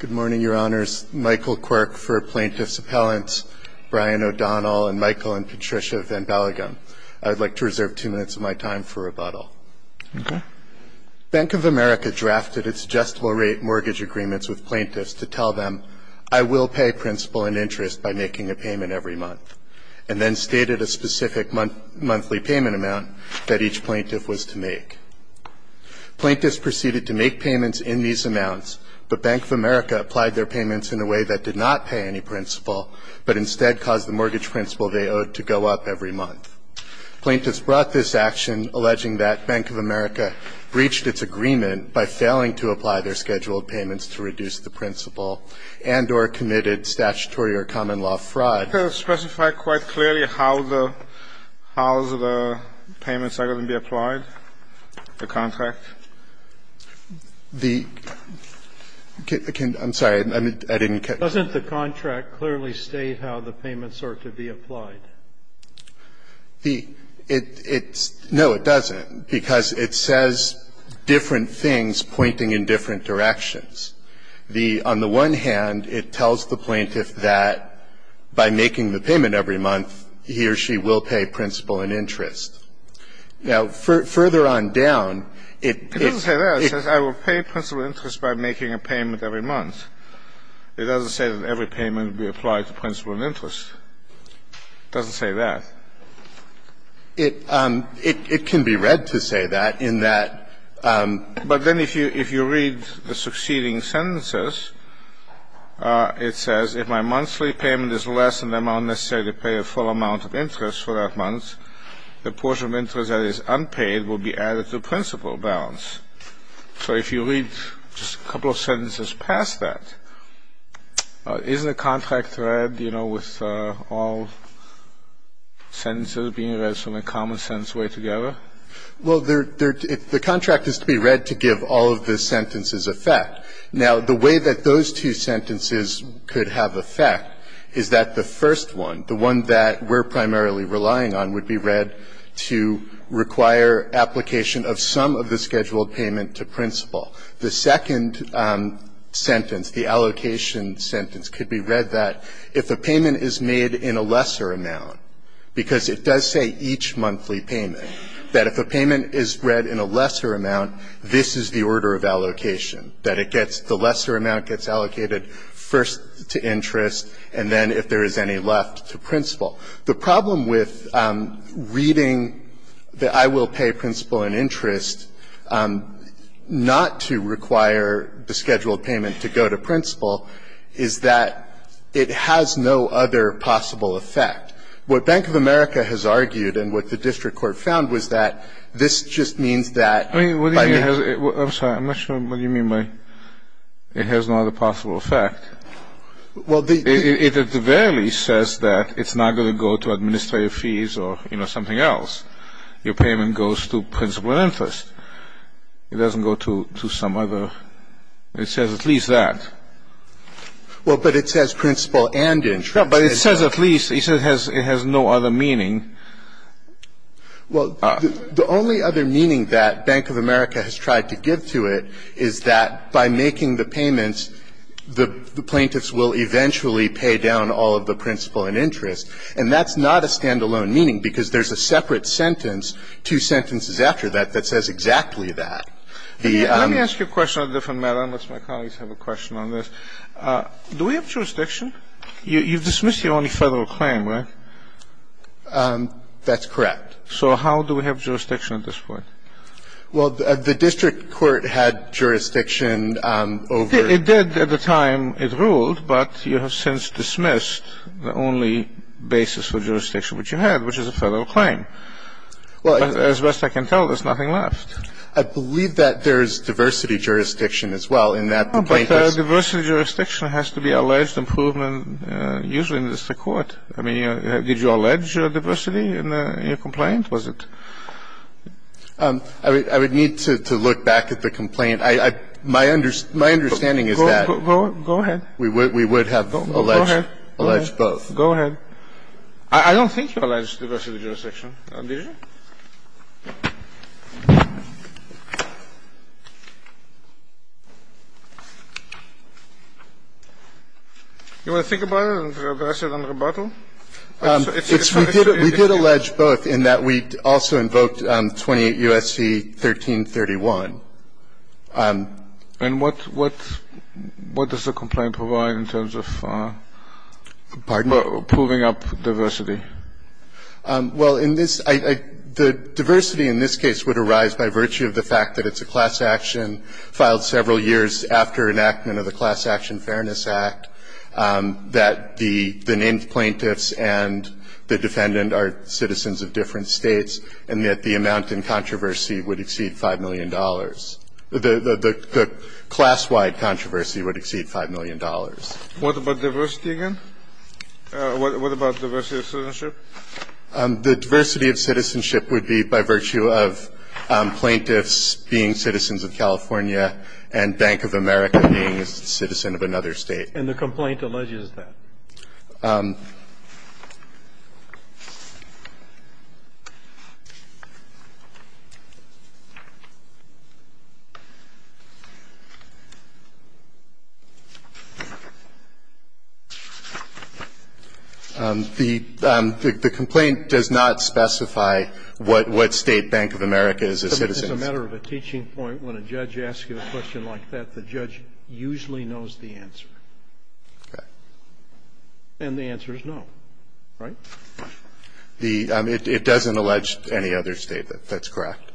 Good morning, Your Honors. Michael Quirk for Plaintiff's Appellants, Brian O'Donnell, and Michael and Patricia van Belgen. I'd like to reserve two minutes of my time for rebuttal. Okay. Bank of America drafted its adjustable rate mortgage agreements with plaintiffs to tell them, I will pay principal and interest by making a payment every month, and then stated a specific monthly payment amount that each plaintiff was to make. Plaintiffs proceeded to make payments in these amounts, but Bank of America applied their payments in a way that did not pay any principal, but instead caused the mortgage principal they owed to go up every month. Plaintiffs brought this action, alleging that Bank of America breached its agreement by failing to apply their scheduled payments to reduce the principal and or committed statutory or common law fraud. Do you think that would specify quite clearly how the – how the payments are going to be applied, the contract? The – I'm sorry. I didn't catch that. Doesn't the contract clearly state how the payments are to be applied? The – it's – no, it doesn't, because it says different things pointing in different directions. The – on the one hand, it tells the plaintiff that by making the payment every month, he or she will pay principal and interest. Now, further on down, it is – It doesn't say that. It says, I will pay principal and interest by making a payment every month. It doesn't say that every payment would be applied to principal and interest. It doesn't say that. It – it can be read to say that, in that – But then if you – if you read the succeeding sentences, it says, if my monthly payment is less than the amount necessary to pay a full amount of interest for that month, the portion of interest that is unpaid will be added to principal balance. So if you read just a couple of sentences past that, isn't the contract read, you know, with all sentences being read from a common-sense way together? Well, there – the contract is to be read to give all of the sentences effect. Now, the way that those two sentences could have effect is that the first one, the one that we're primarily relying on, would be read to require application of some of the scheduled payment to principal. The second sentence, the allocation sentence, could be read that if the payment is made in a lesser amount, because it does say each monthly payment, that if a payment is read in a lesser amount, this is the order of allocation, that it gets – the lesser amount gets allocated first to interest, and then if there is any left, to principal. The problem with reading the I will pay principal in interest not to require the scheduled payment to go to principal is that it has no other possible effect. What Bank of America has argued and what the district court found was that this just means that by the – I'm sorry. I'm not sure what you mean by it has no other possible effect. Well, the – It at the very least says that it's not going to go to administrative fees or, you know, something else. Your payment goes to principal in interest. It doesn't go to some other – it says at least that. Well, but it says principal and interest. But it says at least. It says it has no other meaning. Well, the only other meaning that Bank of America has tried to give to it is that by making the payments, the plaintiffs will eventually pay down all of the principal in interest. And that's not a standalone meaning, because there's a separate sentence, two sentences after that, that says exactly that. Let me ask you a question on a different matter, unless my colleagues have a question on this. Do we have jurisdiction? You've dismissed your only federal claim, right? That's correct. So how do we have jurisdiction at this point? Well, the district court had jurisdiction over – It did at the time it ruled, but you have since dismissed the only basis of jurisdiction which you had, which is a federal claim. As best I can tell, there's nothing left. But diversity jurisdiction has to be alleged improvement usually in the district court. I mean, did you allege diversity in your complaint? Was it – I would need to look back at the complaint. My understanding is that – Go ahead. We would have alleged both. Go ahead. I don't think you alleged diversity jurisdiction, did you? Do you want to think about it and address it on rebuttal? It's – We did allege both in that we also invoked 28 U.S.C. 1331. And what does the complaint provide in terms of – Pardon me? Proving up diversity? Well, in this – The diversity in this case would arise by virtue of the fact that it's a class action filed several years after enactment of the Class Action Fairness Act, that the named plaintiffs and the defendant are citizens of different states, and that the amount in controversy would exceed $5 million. The class-wide controversy would exceed $5 million. What about diversity again? What about diversity of citizenship? The diversity of citizenship would be by virtue of plaintiffs being citizens of California and Bank of America being a citizen of another state. And the complaint alleges that. The complaint does not specify what state Bank of America is a citizen of. It's a matter of a teaching point. When a judge asks you a question like that, the judge usually knows the answer. Okay. And the answer is no, right? The – it doesn't allege any other state. That's correct.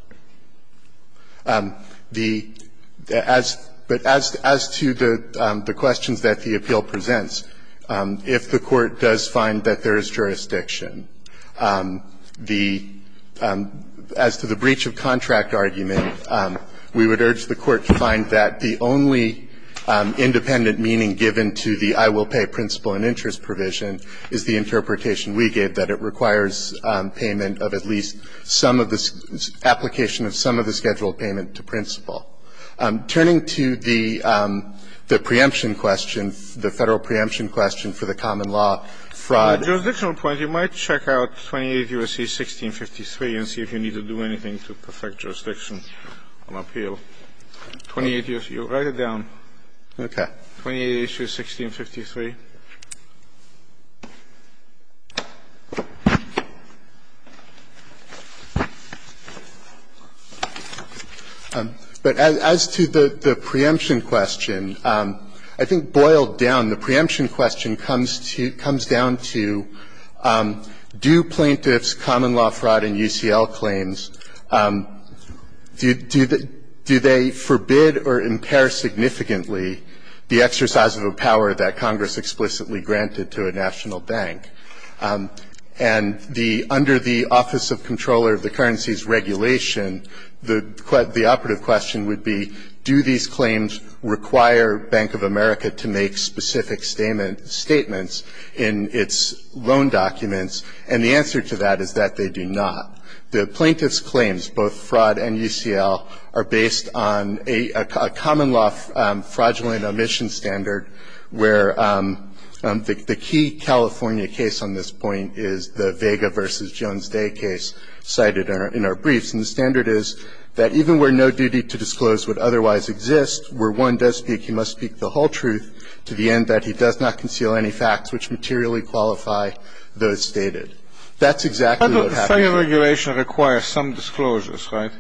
The – as – but as to the questions that the appeal presents, if the Court does find that there is jurisdiction, the – as to the breach of contract argument, we would urge the Court to find that the only independent meaning given to the I will pay principal and interest provision is the interpretation we gave, that it requires payment of at least some of the – application of some of the scheduled payment to principal. Turning to the preemption question, the Federal preemption question for the common law fraud. At a jurisdictional point, you might check out 28 U.S.C. 1653 and see if you need to do anything to perfect jurisdiction on appeal. 28 U.S.C. Write it down. Okay. 28 U.S.C. 1653. But as to the preemption question, I think boiled down, the preemption question comes to – comes down to do plaintiffs' common law fraud and UCL claims – do they forbid or impair significantly the exercise of a power that Congress explicitly granted to a national bank? And the – under the Office of Comptroller of the Currency's regulation, the operative question would be do these claims require Bank of America to make specific statements in its loan documents? And the answer to that is that they do not. The plaintiffs' claims, both fraud and UCL, are based on a common law fraudulent omission standard where the key California case on this point is the Vega v. Jones Day case cited in our briefs. And the standard is that even where no duty to disclose would otherwise exist, where one does speak, he must speak the whole truth to the end that he does not conceal any facts which materially qualify those stated. That's exactly what happened here. But the Federal Regulation requires some disclosures, right?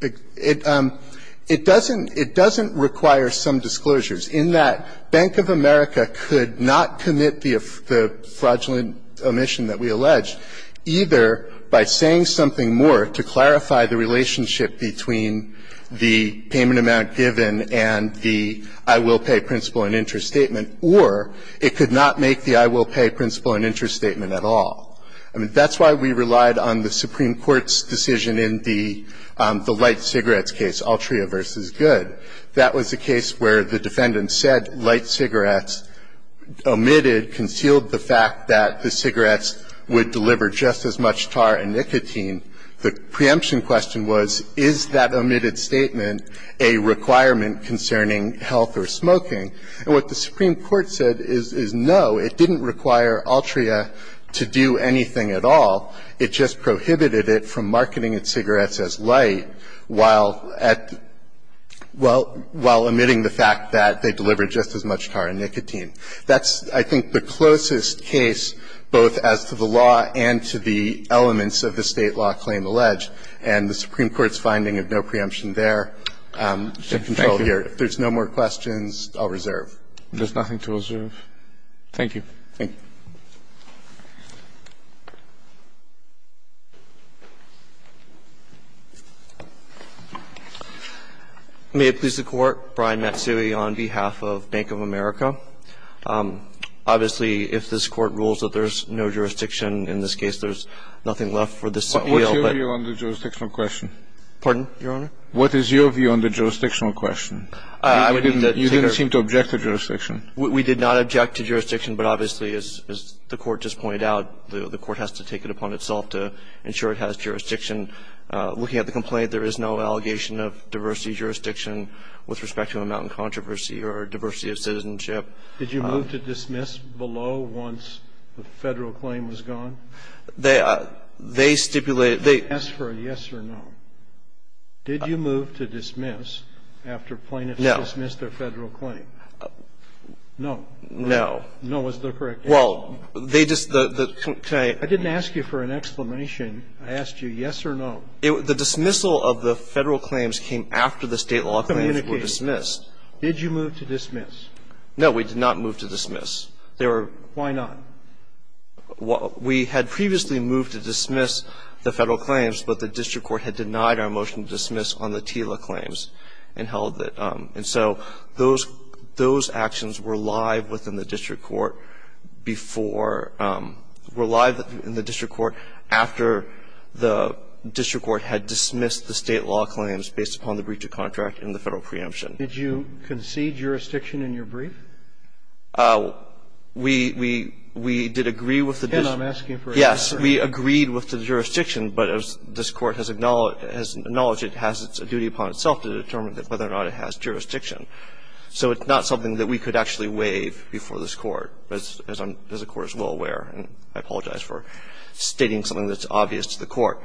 It doesn't – it doesn't require some disclosures in that Bank of America could not commit the fraudulent omission that we allege either by saying something more to clarify the relationship between the payment amount given and the I will pay principle and interest statement, or it could not make the I will pay principle and interest statement at all. I mean, that's why we relied on the Supreme Court's decision in the light cigarettes case, Altria v. Good. That was a case where the defendant said light cigarettes omitted, concealed the fact that the cigarettes would deliver just as much tar and nicotine. The preemption question was, is that omitted statement a requirement concerning health or smoking? And what the Supreme Court said is, no, it didn't require Altria to do anything at all. It just prohibited it from marketing its cigarettes as light while at – while omitting the fact that they deliver just as much tar and nicotine. That's, I think, the closest case both as to the law and to the elements of the State law claim alleged, and the Supreme Court's finding of no preemption there is in control here. If there's no more questions, I'll reserve. There's nothing to reserve. Thank you. Thank you. May it please the Court. Brian Matsui on behalf of Bank of America. Obviously, if this Court rules that there's no jurisdiction in this case, there's nothing left for this appeal, but – What's your view on the jurisdictional question? Pardon, Your Honor? What is your view on the jurisdictional question? I would think that – You didn't seem to object to jurisdiction. We did not object to jurisdiction, but obviously, as the Court just pointed out, the Court has to take it upon itself to ensure it has jurisdiction. Looking at the complaint, there is no allegation of diversity of jurisdiction with respect to amount and controversy or diversity of citizenship. Did you move to dismiss below once the Federal claim was gone? They stipulated – they – Ask for a yes or no. Did you move to dismiss after plaintiffs dismissed their Federal claim? No. No. No is the correct answer. Well, they just – the complaint – I didn't ask you for an exclamation. I asked you yes or no. The dismissal of the Federal claims came after the State law claims were dismissed. Did you move to dismiss? No, we did not move to dismiss. They were – Why not? We had previously moved to dismiss the Federal claims, but the district court had denied our motion to dismiss on the TILA claims and held that – and so those actions were live within the district court before – were live in the district court after the district court had dismissed the State law claims based upon the breach of contract in the Federal preemption. Did you concede jurisdiction in your brief? We – we did agree with the district court. Again, I'm asking for an exclamation. Yes. We agreed with the jurisdiction, but as this Court has acknowledged, it has a duty upon itself to determine whether or not it has jurisdiction. So it's not something that we could actually waive before this Court, as I'm – as the Court is well aware, and I apologize for stating something that's obvious to the Court.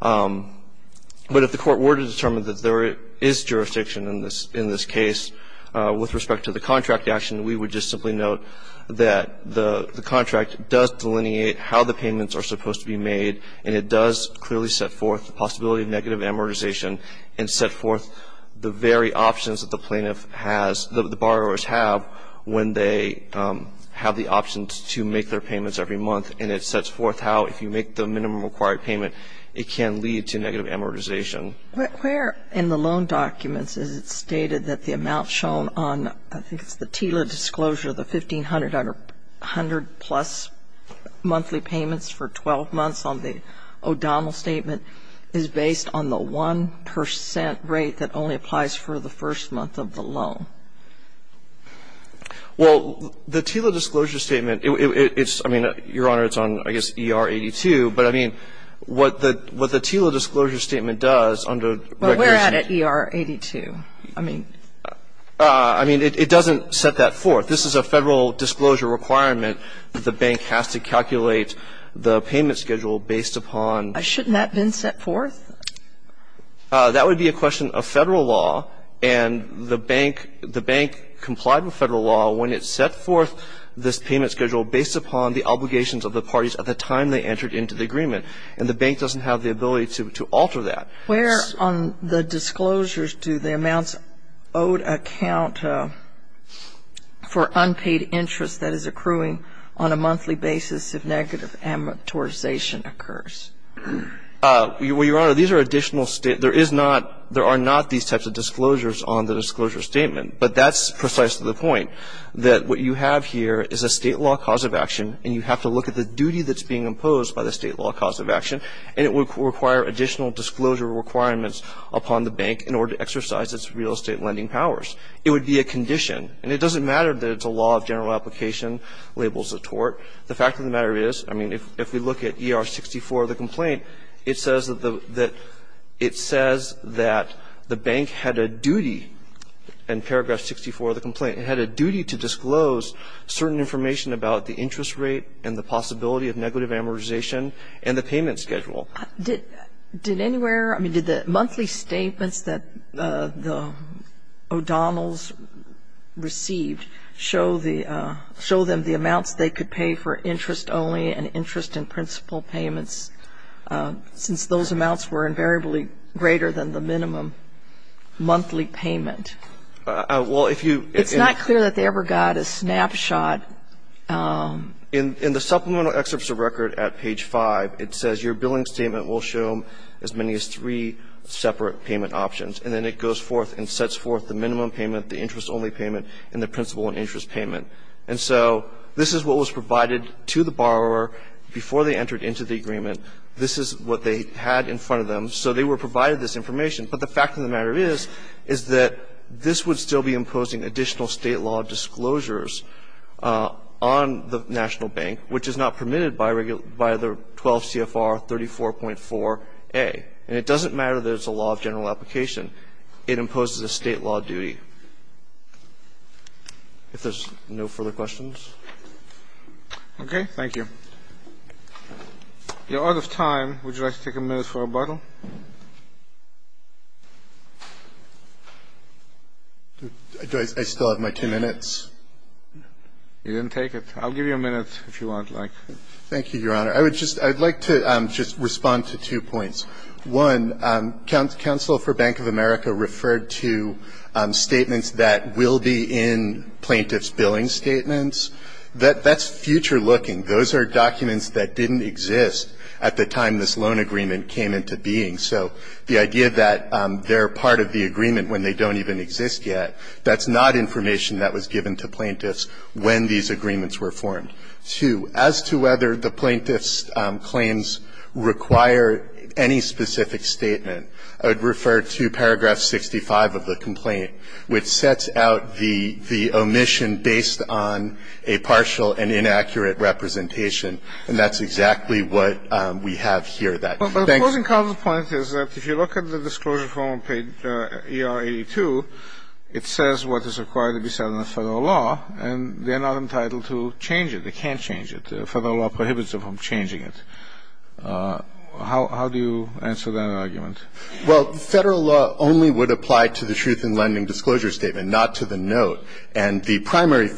But if the Court were to determine that there is jurisdiction in this – in this case, with respect to the contract action, we would just simply note that the contract does delineate how the payments are supposed to be made, and it does clearly set forth the very options that the plaintiff has – the borrowers have when they have the options to make their payments every month, and it sets forth how, if you make the minimum required payment, it can lead to negative amortization. Where in the loan documents is it stated that the amount shown on – I think it's the TILA disclosure, the $1,500-plus monthly payments for 12 months on the O'Donnell statement is based on the 1 percent rate that only applies for the first month of the loan? Well, the TILA disclosure statement, it's – I mean, Your Honor, it's on, I guess, ER-82. But, I mean, what the – what the TILA disclosure statement does, under regular statute – But where at at ER-82? I mean – I mean, it doesn't set that forth. This is a Federal disclosure requirement that the bank has to calculate the payment schedule based upon – Shouldn't that have been set forth? That would be a question of Federal law, and the bank – the bank complied with Federal law when it set forth this payment schedule based upon the obligations of the parties at the time they entered into the agreement. And the bank doesn't have the ability to alter that. Where on the disclosures do the amounts owed account for unpaid interest that is accruing on a monthly basis if negative amortization occurs? Well, Your Honor, these are additional – there is not – there are not these types of disclosures on the disclosure statement. But that's precise to the point, that what you have here is a State law cause of action, and you have to look at the duty that's being imposed by the State law cause of action, and it would require additional disclosure requirements upon the bank in order to exercise its real estate lending powers. It would be a condition. And it doesn't matter that it's a law of general application, labels of tort. The fact of the matter is, I mean, if we look at ER-64 of the complaint, it says that the – it says that the bank had a duty, in paragraph 64 of the complaint, it had a duty to disclose certain information about the interest rate and the possibility of negative amortization and the payment schedule. Did anywhere – I mean, did the monthly statements that the O'Donnells received show the – show them the amounts they could pay for interest-only and interest-in-principle payments, since those amounts were invariably greater than the minimum monthly payment? Well, if you – It's not clear that they ever got a snapshot. In the supplemental excerpts of record at page 5, it says your billing statement will show as many as three separate payment options. And then it goes forth and sets forth the minimum payment, the interest-only payment, and the principle and interest payment. And so this is what was provided to the borrower before they entered into the agreement. This is what they had in front of them. So they were provided this information. But the fact of the matter is, is that this would still be imposing additional State law disclosures on the national bank, which is not permitted by the 12 CFR 34.4a. And it doesn't matter that it's a law of general application. It imposes a State law duty. If there's no further questions. Okay. Thank you. We are out of time. Would you like to take a minute for rebuttal? Do I still have my two minutes? You didn't take it. I'll give you a minute if you want, like. Thank you, Your Honor. I would just – I would like to just respond to two points. One, counsel for Bank of America referred to statements that will be in plaintiff's billing statements. That's future looking. Those are documents that didn't exist at the time this loan agreement came into being. So the idea that they're part of the agreement when they don't even exist yet, that's not information that was given to plaintiffs when these agreements were formed. Two, as to whether the plaintiff's claims require any specific statement, I would refer to paragraph 65 of the complaint, which sets out the omission based on a partial and inaccurate representation. And that's exactly what we have here. The closing comment is that if you look at the disclosure form on page ER82, it says what is required to be said in the Federal law, and they're not entitled to change it, they can't change it. The Federal law prohibits them from changing it. How do you answer that argument? Well, Federal law only would apply to the truth in lending disclosure statement, not to the note. And the primary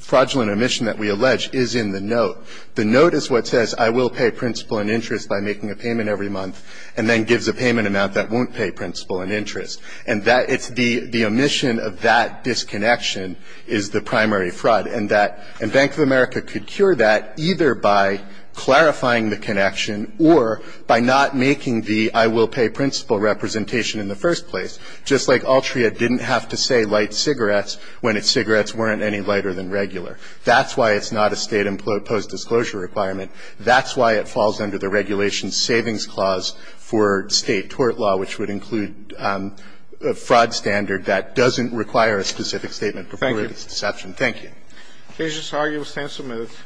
fraudulent omission that we allege is in the note. The note is what says I will pay principal and interest by making a payment every month, and then gives a payment amount that won't pay principal and interest. And that it's the omission of that disconnection is the primary fraud. And that Bank of America could cure that either by clarifying the connection or by not making the I will pay principal representation in the first place, just like Altria didn't have to say light cigarettes when its cigarettes weren't any lighter than regular. That's why it's not a State imposed disclosure requirement. That's why it falls under the Regulation Savings Clause for State tort law, which would include a fraud standard that doesn't require a specific statement to prove its deception. Thank you. Thank you. Mr. Sargi, we'll stand to move.